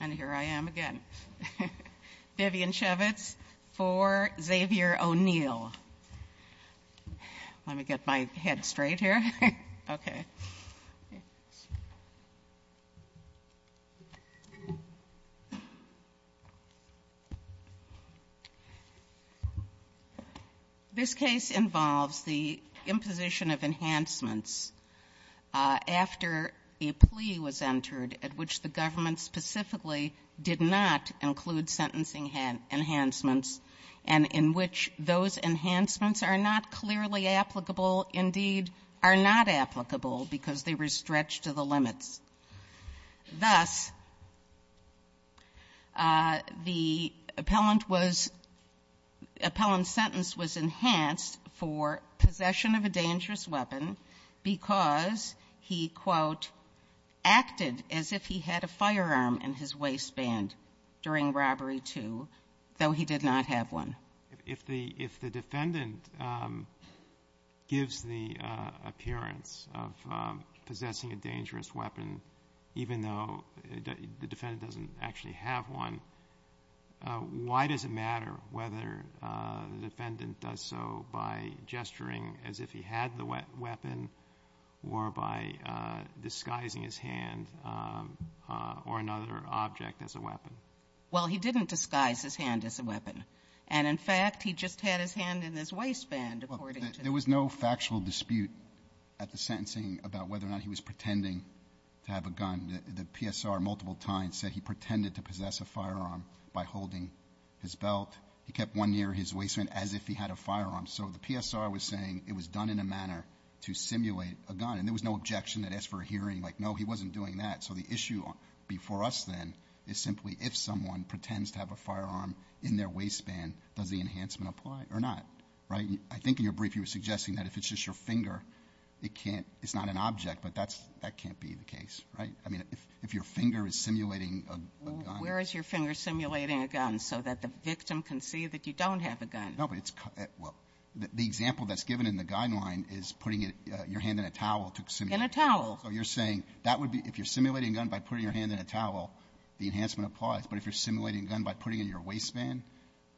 And here I am again. Vivian Chevitz for Xavier O'Neill. Let me get my head straight here. Okay. This case involves the imposition of enhancements after a plea was entered at which the government specifically did not include sentencing enhancements, and in which those enhancements are not clearly applicable, indeed, are not applicable because they were stretched to the limits. Thus, the appellant was — the appellant's sentence was enhanced for possession of a dangerous weapon because he, quote, acted as if he had a firearm in his waistband during robbery two, though he did not have one. So if the defendant gives the appearance of possessing a dangerous weapon, even though the defendant doesn't actually have one, why does it matter whether the defendant does so by gesturing as if he had the weapon or by disguising his hand or another object as a weapon? Well, he didn't disguise his hand as a weapon. And, in fact, he just had his hand in his waistband, according to the defendant. Well, there was no factual dispute at the sentencing about whether or not he was pretending to have a gun. The PSR multiple times said he pretended to possess a firearm by holding his belt. He kept one near his waistband as if he had a firearm. So the PSR was saying it was done in a manner to simulate a gun. And there was no objection that as for a hearing, like, no, he wasn't doing that. So the issue before us, then, is simply if someone pretends to have a firearm in their waistband, does the enhancement apply or not, right? I think in your brief you were suggesting that if it's just your finger, it can't, it's not an object, but that can't be the case, right? I mean, if your finger is simulating a gun. Well, where is your finger simulating a gun so that the victim can see that you don't have a gun? No, but it's, well, the example that's given in the guideline is putting your hand in a towel to simulate a gun. In a towel. So you're saying that would be, if you're simulating a gun by putting your hand in a towel, the enhancement applies. But if you're simulating a gun by putting it in your waistband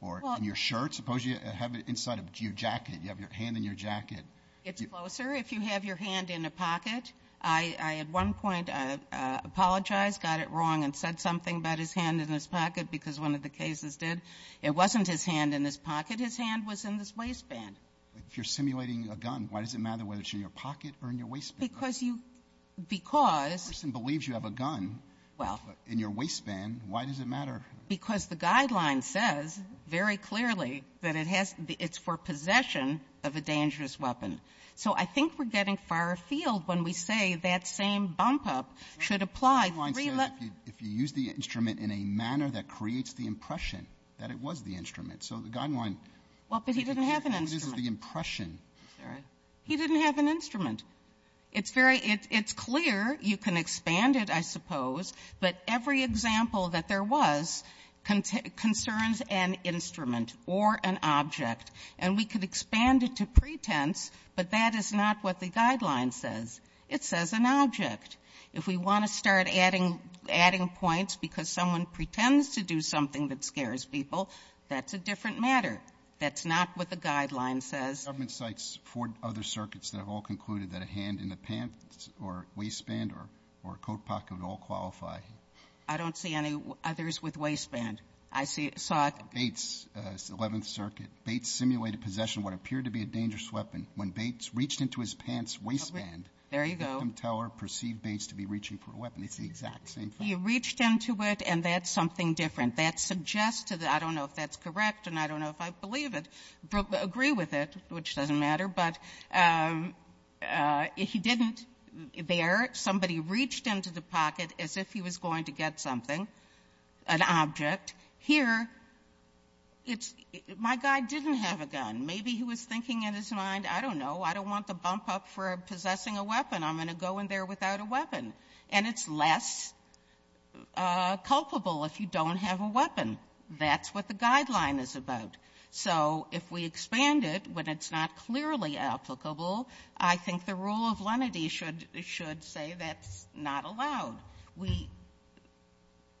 or in your shirt, suppose you have it inside of your jacket, you have your hand in your jacket. It's closer if you have your hand in a pocket. I at one point apologized, got it wrong, and said something about his hand in his pocket because one of the cases did. It wasn't his hand in his pocket. His hand was in his waistband. If you're simulating a gun, why does it matter whether it's in your pocket or in your waistband? Because you, because. If a person believes you have a gun in your waistband, why does it matter? Because the guideline says very clearly that it has, it's for possession of a dangerous weapon. So I think we're getting far afield when we say that same bump up should apply. The guideline says if you use the instrument in a manner that creates the impression that it was the instrument. So the guideline. Well, but he didn't have an instrument. What it is is the impression. He didn't have an instrument. It's very, it's clear. You can expand it, I suppose, but every example that there was concerns an instrument or an object. And we could expand it to pretense, but that is not what the guideline says. It says an object. If we want to start adding points because someone pretends to do something that scares people, that's a different matter. That's not what the guideline says. The government cites four other circuits that have all concluded that a hand in the pants or waistband or coat pocket would all qualify. I don't see any others with waistband. I saw it. Bates, 11th Circuit. Bates simulated possession of what appeared to be a dangerous weapon. When Bates reached into his pants waistband. There you go. The victim teller perceived Bates to be reaching for a weapon. It's the exact same thing. He reached into it, and that's something different. That suggests to the, I don't know if that's correct, and I don't know if I believe it, agree with it. Which doesn't matter. But he didn't there. Somebody reached into the pocket as if he was going to get something, an object. Here, it's my guy didn't have a gun. Maybe he was thinking in his mind, I don't know, I don't want the bump up for possessing a weapon. I'm going to go in there without a weapon. And it's less culpable if you don't have a weapon. That's what the guideline is about. So if we expand it, when it's not clearly applicable, I think the rule of lenity should say that's not allowed. We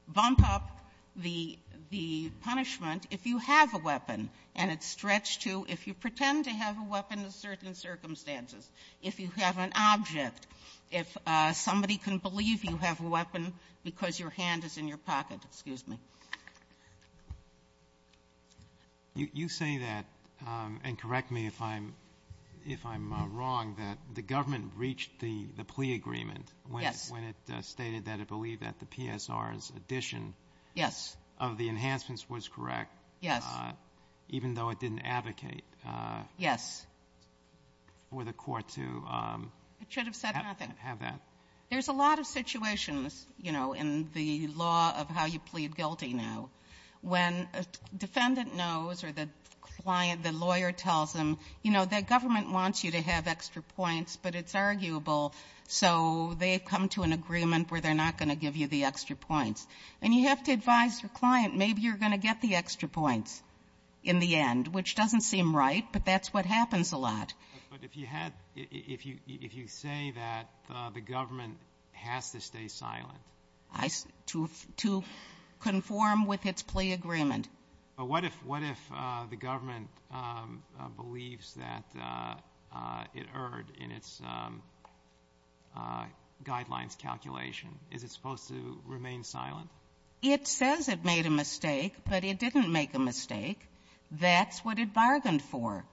bump up the punishment if you have a weapon, and it's stretched to if you pretend to have a weapon in certain circumstances, if you have an object, if somebody can believe you have a weapon because your hand is in your pocket. Excuse me. You say that, and correct me if I'm wrong, that the government reached the plea agreement. Yes. When it stated that it believed that the PSR's addition of the enhancements was correct. Yes. Even though it didn't advocate for the court to have that. It should have said nothing. There's a lot of situations, you know, in the law of how you plead guilty now. When a defendant knows or the client, the lawyer tells them, you know, the government wants you to have extra points, but it's arguable, so they've come to an agreement where they're not going to give you the extra points. And you have to advise your client, maybe you're going to get the extra points in the end, which doesn't seem right, but that's what happens a lot. But if you say that the government has to stay silent. To conform with its plea agreement. But what if the government believes that it erred in its guidelines calculation? Is it supposed to remain silent? It says it made a mistake, but it didn't make a mistake. That's what it bargained for.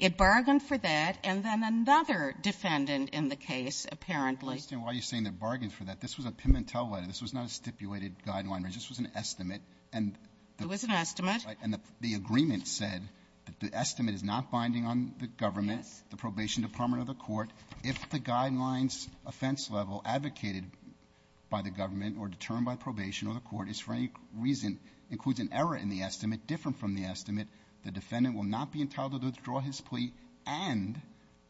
It bargained for that, and then another defendant in the case, apparently. I understand why you're saying it bargained for that. This was a Pimentel letter. This was not a stipulated guideline. This was an estimate. It was an estimate. And the agreement said that the estimate is not binding on the government. Yes. The probation department or the court. If the guidelines offense level advocated by the government or determined by probation or the court is for any reason includes an error in the estimate different from the estimate, the defendant will not be entitled to withdraw his plea and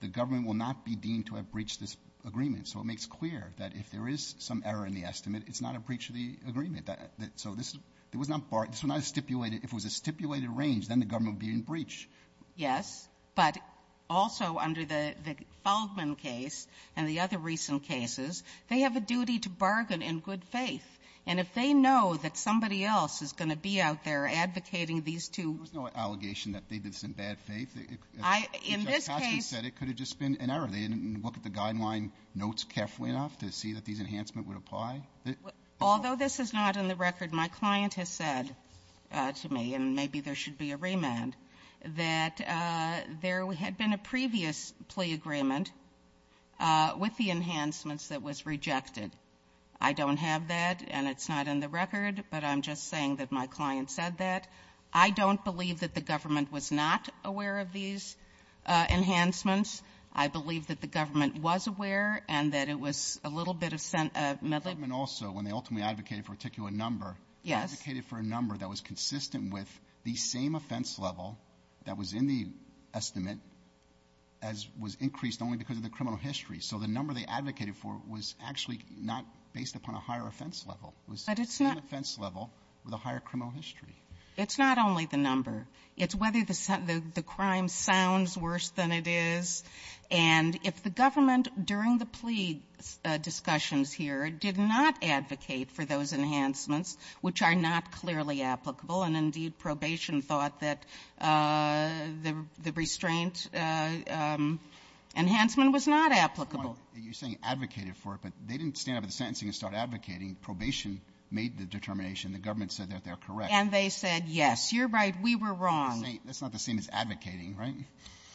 the government will not be deemed to have breached this agreement. So it makes clear that if there is some error in the estimate, it's not a breach of the agreement. So this was not a stipulated. If it was a stipulated range, then the government would be in breach. Yes. But also under the Feldman case and the other recent cases, they have a duty to bargain in good faith. And if they know that somebody else is going to be out there advocating these two. There was no allegation that they did this in bad faith. In this case. If Judge Costner said it, could it have just been an error? They didn't look at the guideline notes carefully enough to see that these enhancements would apply? Although this is not in the record, my client has said to me, and maybe there should be a remand, that there had been a previous plea agreement with the enhancements that was rejected. I don't have that and it's not in the record, but I'm just saying that my client said that. I don't believe that the government was not aware of these enhancements. I believe that the government was aware and that it was a little bit of sentiment. The government also, when they ultimately advocated for a particular number. Yes. They advocated for a number that was consistent with the same offense level that was in the estimate as was increased only because of the criminal history. So the number they advocated for was actually not based upon a higher offense level. But it's not. It was the same offense level with a higher criminal history. It's not only the number. It's whether the crime sounds worse than it is. And if the government during the plea discussions here did not advocate for those enhancements, which are not clearly applicable, and indeed probation thought that the restraint enhancement was not applicable. You're saying advocated for it, but they didn't stand up at the sentencing and start advocating. Probation made the determination. The government said that they're correct. And they said, yes, you're right. We were wrong. That's not the same as advocating, right?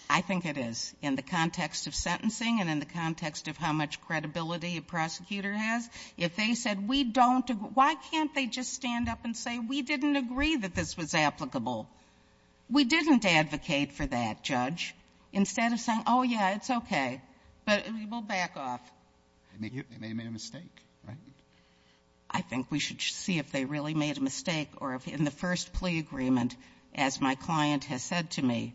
I think it is in the context of sentencing and in the context of how much credibility a prosecutor has. If they said we don't, why can't they just stand up and say we didn't agree that this was applicable? We didn't advocate for that, Judge. Instead of saying, oh, yeah, it's okay. But we'll back off. They made a mistake, right? I think we should see if they really made a mistake or if in the first plea agreement, as my client has said to me,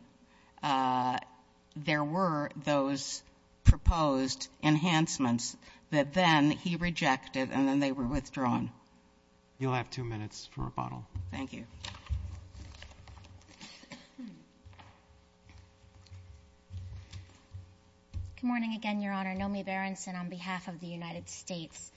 there were those proposed enhancements that then he rejected and then they were withdrawn. You'll have two minutes for rebuttal. Thank you. Good morning again, Your Honor. Nomi Berenson on behalf of the United States.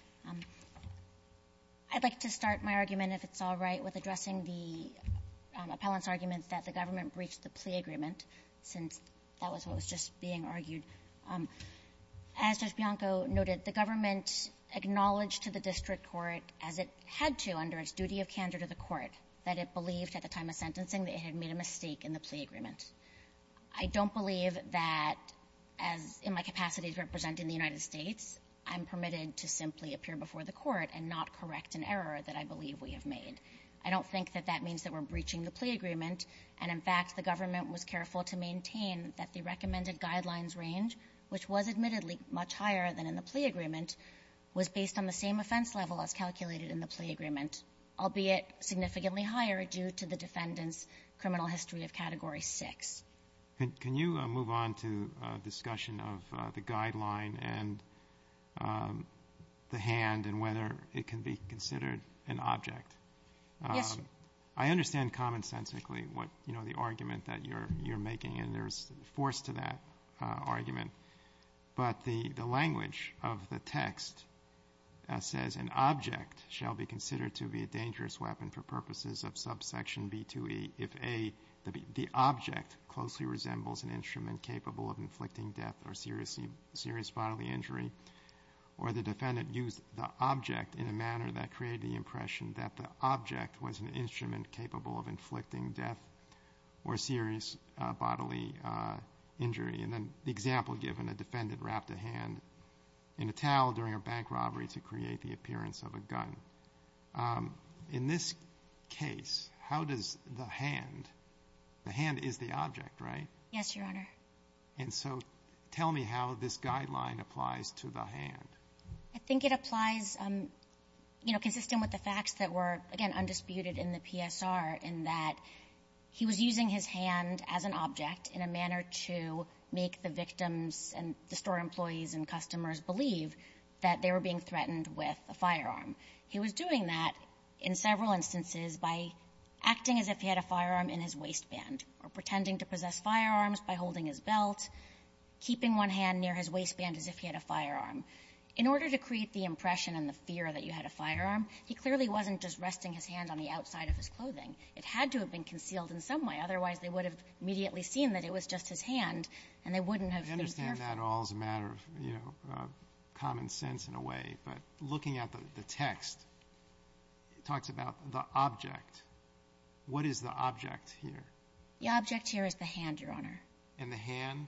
I'd like to start my argument, if it's all right, with addressing the appellant's argument that the government breached the plea agreement since that was what was just being argued. As Judge Bianco noted, the government acknowledged to the district court, as it had to under its duty of candor to the court, that it believed at the time of sentencing that it had made a mistake in the plea agreement. I don't believe that, as in my capacity to represent in the United States, I'm permitted to simply appear before the court and not correct an error that I believe we have made. I don't think that that means that we're breaching the plea agreement. And, in fact, the government was careful to maintain that the recommended guidelines range, which was admittedly much higher than in the plea agreement, was based on the same offense level as calculated in the plea agreement, albeit significantly higher due to the defendant's criminal history of Category 6. Can you move on to discussion of the guideline and the hand and whether it can be considered an object? Yes. I understand commonsensically what the argument that you're making, and there's force to that argument. But the language of the text says, an object shall be considered to be a dangerous weapon for purposes of subsection B2E if A, the object closely resembles an instrument capable of inflicting death or serious bodily injury, or the defendant used the object in a manner that created the impression that the object was an instrument capable of inflicting death or serious bodily injury. And then the example given, a defendant wrapped a hand in a towel during a bank robbery to create the appearance of a gun. In this case, how does the hand – the hand is the object, right? Yes, Your Honor. And so tell me how this guideline applies to the hand. I think it applies consistent with the facts that were, again, and the store employees and customers believe that they were being threatened with a firearm. He was doing that in several instances by acting as if he had a firearm in his waistband or pretending to possess firearms by holding his belt, keeping one hand near his waistband as if he had a firearm. In order to create the impression and the fear that you had a firearm, he clearly wasn't just resting his hand on the outside of his clothing. It had to have been concealed in some way, otherwise they would have immediately seen that it was just his hand, and they wouldn't have been fearful. I understand that all as a matter of, you know, common sense in a way, but looking at the text, it talks about the object. What is the object here? The object here is the hand, Your Honor. And the hand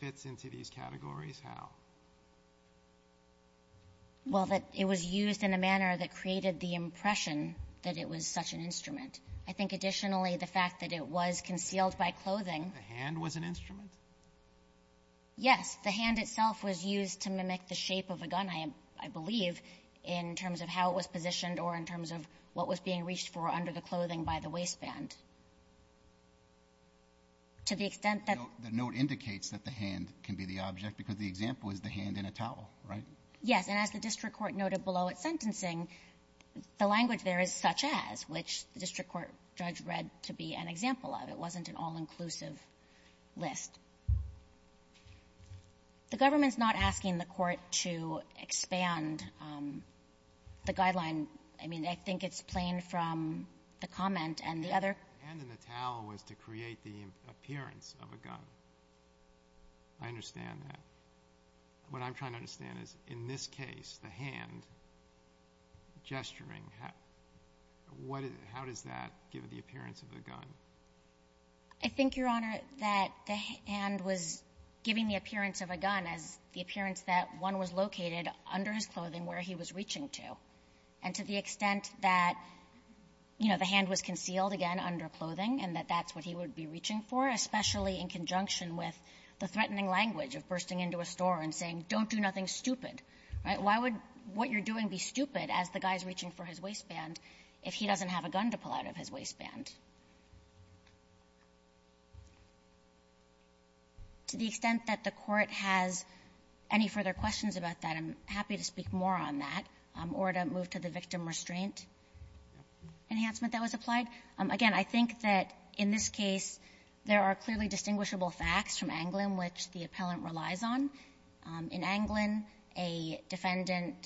fits into these categories how? Well, that it was used in a manner that created the impression that it was such an instrument. I think additionally the fact that it was concealed by clothing. The hand was an instrument? Yes. The hand itself was used to mimic the shape of a gun, I believe, in terms of how it was positioned or in terms of what was being reached for under the clothing by the waistband. To the extent that the note indicates that the hand can be the object, because the example is the hand in a towel, right? Yes. And as the district court noted below its sentencing, the language there is such as, which the district court judge read to be an example of. It wasn't an all-inclusive list. The government's not asking the Court to expand the guideline. I mean, I think it's plain from the comment and the other ---- The hand in the towel was to create the appearance of a gun. I understand that. What I'm trying to understand is, in this case, the hand gesturing, how does that give the appearance of a gun? I think, Your Honor, that the hand was giving the appearance of a gun as the appearance that one was located under his clothing where he was reaching to. And to the extent that, you know, the hand was concealed, again, under clothing and that that's what he would be reaching for, especially in conjunction with the hand in the towel. He's not reaching into a store and saying, don't do nothing stupid, right? Why would what you're doing be stupid as the guy's reaching for his waistband if he doesn't have a gun to pull out of his waistband? To the extent that the Court has any further questions about that, I'm happy to speak more on that or to move to the victim restraint enhancement that was applied. Again, I think that in this case, there are clearly distinguishable facts from Anglin which the appellant relies on. In Anglin, a defendant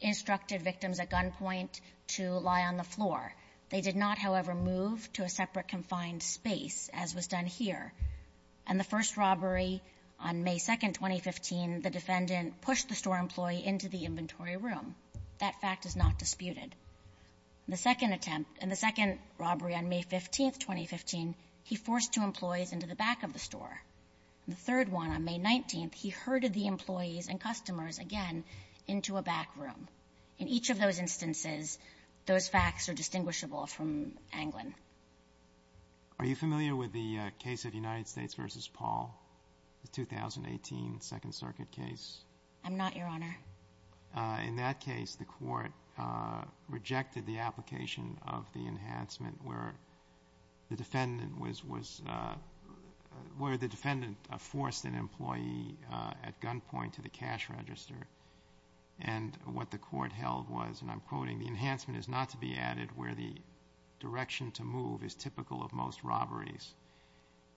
instructed victims at gunpoint to lie on the floor. They did not, however, move to a separate confined space as was done here. And the first robbery on May 2nd, 2015, the defendant pushed the store employee into the inventory room. That fact is not disputed. The second attempt and the second robbery on May 15th, 2015, he forced two employees into the back of the store. The third one on May 19th, he herded the employees and customers again into a back room. In each of those instances, those facts are distinguishable from Anglin. Are you familiar with the case of United States v. Paul, the 2018 Second Circuit case? I'm not, Your Honor. In that case, the Court rejected the application of the enhancement where the defendant was, where the defendant forced an employee at gunpoint to the cash register. And what the Court held was, and I'm quoting, the enhancement is not to be added where the direction to move is typical of most robberies.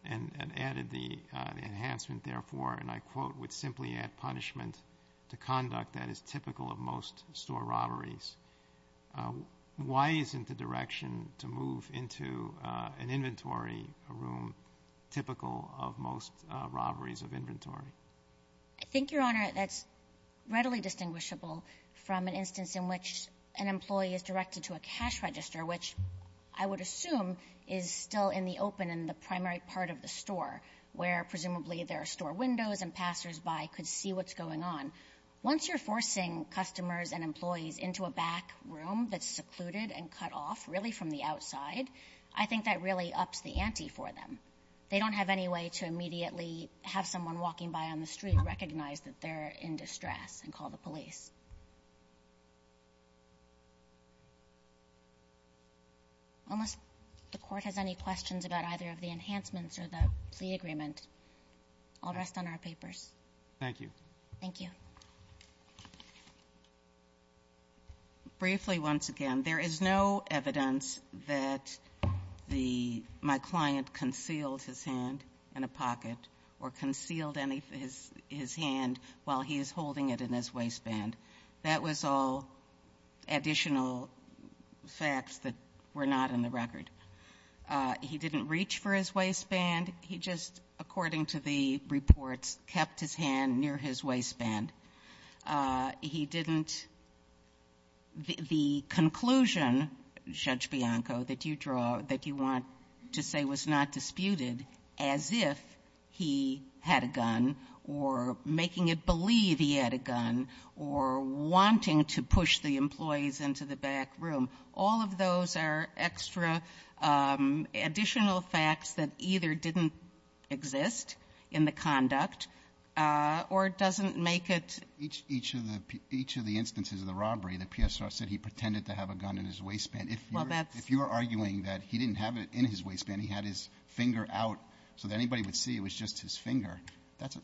And added the enhancement, therefore, and I quote, would simply add punishment to conduct that is typical of most store robberies. Why isn't the direction to move into an inventory room typical of most robberies of inventory? I think, Your Honor, that's readily distinguishable from an instance in which an employee is directed to a cash register, which I would assume is still in the open in the primary part of the store, where presumably there are store windows and passersby could see what's going on. Once you're forcing customers and employees into a back room that's secluded and cut off, really from the outside, I think that really ups the ante for them. They don't have any way to immediately have someone walking by on the street recognize that they're in distress and call the police. Unless the Court has any questions about either of the enhancements or the plea papers. Thank you. Thank you. Briefly, once again, there is no evidence that my client concealed his hand in a pocket or concealed his hand while he is holding it in his waistband. That was all additional facts that were not in the record. He didn't reach for his waistband. He just, according to the reports, kept his hand near his waistband. He didn't the conclusion, Judge Bianco, that you draw, that you want to say was not disputed as if he had a gun or making it believe he had a gun or wanting to push the employees into the back room. All of those are extra additional facts that either didn't exist in the conduct or doesn't make it ---- Each of the instances of the robbery, the PSR said he pretended to have a gun in his waistband. If you're arguing that he didn't have it in his waistband, he had his finger out so that anybody would see it was just his finger,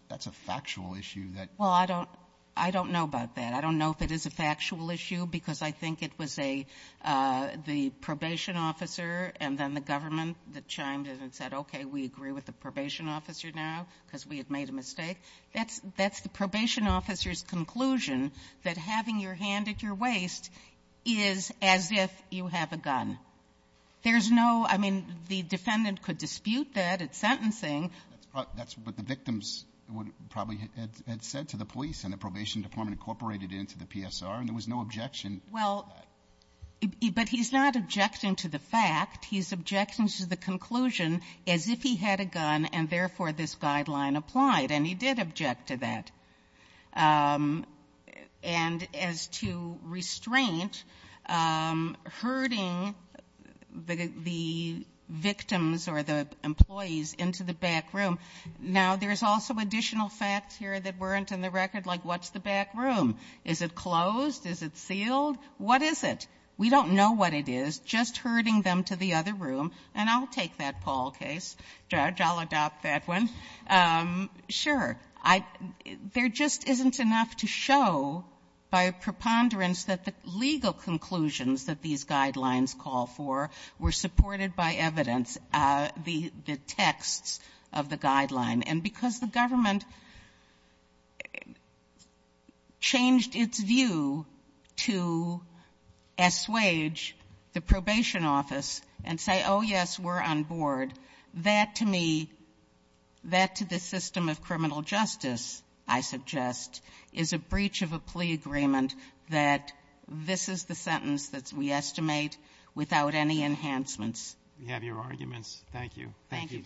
that's a factual issue that ---- Well, I don't know about that. I don't know if it is a factual issue because I think it was the probation officer and then the government that chimed in and said, okay, we agree with the probation officer now because we had made a mistake. That's the probation officer's conclusion, that having your hand at your waist is as if you have a gun. There's no ---- I mean, the defendant could dispute that at sentencing. That's what the victims probably had said to the police and the probation department incorporated into the PSR, and there was no objection to that. Well, but he's not objecting to the fact. He's objecting to the conclusion as if he had a gun and, therefore, this guideline applied. And he did object to that. And as to restraint, herding the victims or the employees into the back room. Now, there's also additional facts here that weren't in the record, like what's the back room? Is it closed? Is it sealed? What is it? We don't know what it is. Just herding them to the other room, and I'll take that Paul case. Judge, I'll But it just isn't enough to show by preponderance that the legal conclusions that these guidelines call for were supported by evidence, the texts of the guideline. And because the government changed its view to assuage the probation office and say, oh, yes, we're on board, that to me, that to the system of criminal justice, I suggest is a breach of a plea agreement that this is the sentence that we estimate without any enhancements. We have your arguments. Thank you. Thank you.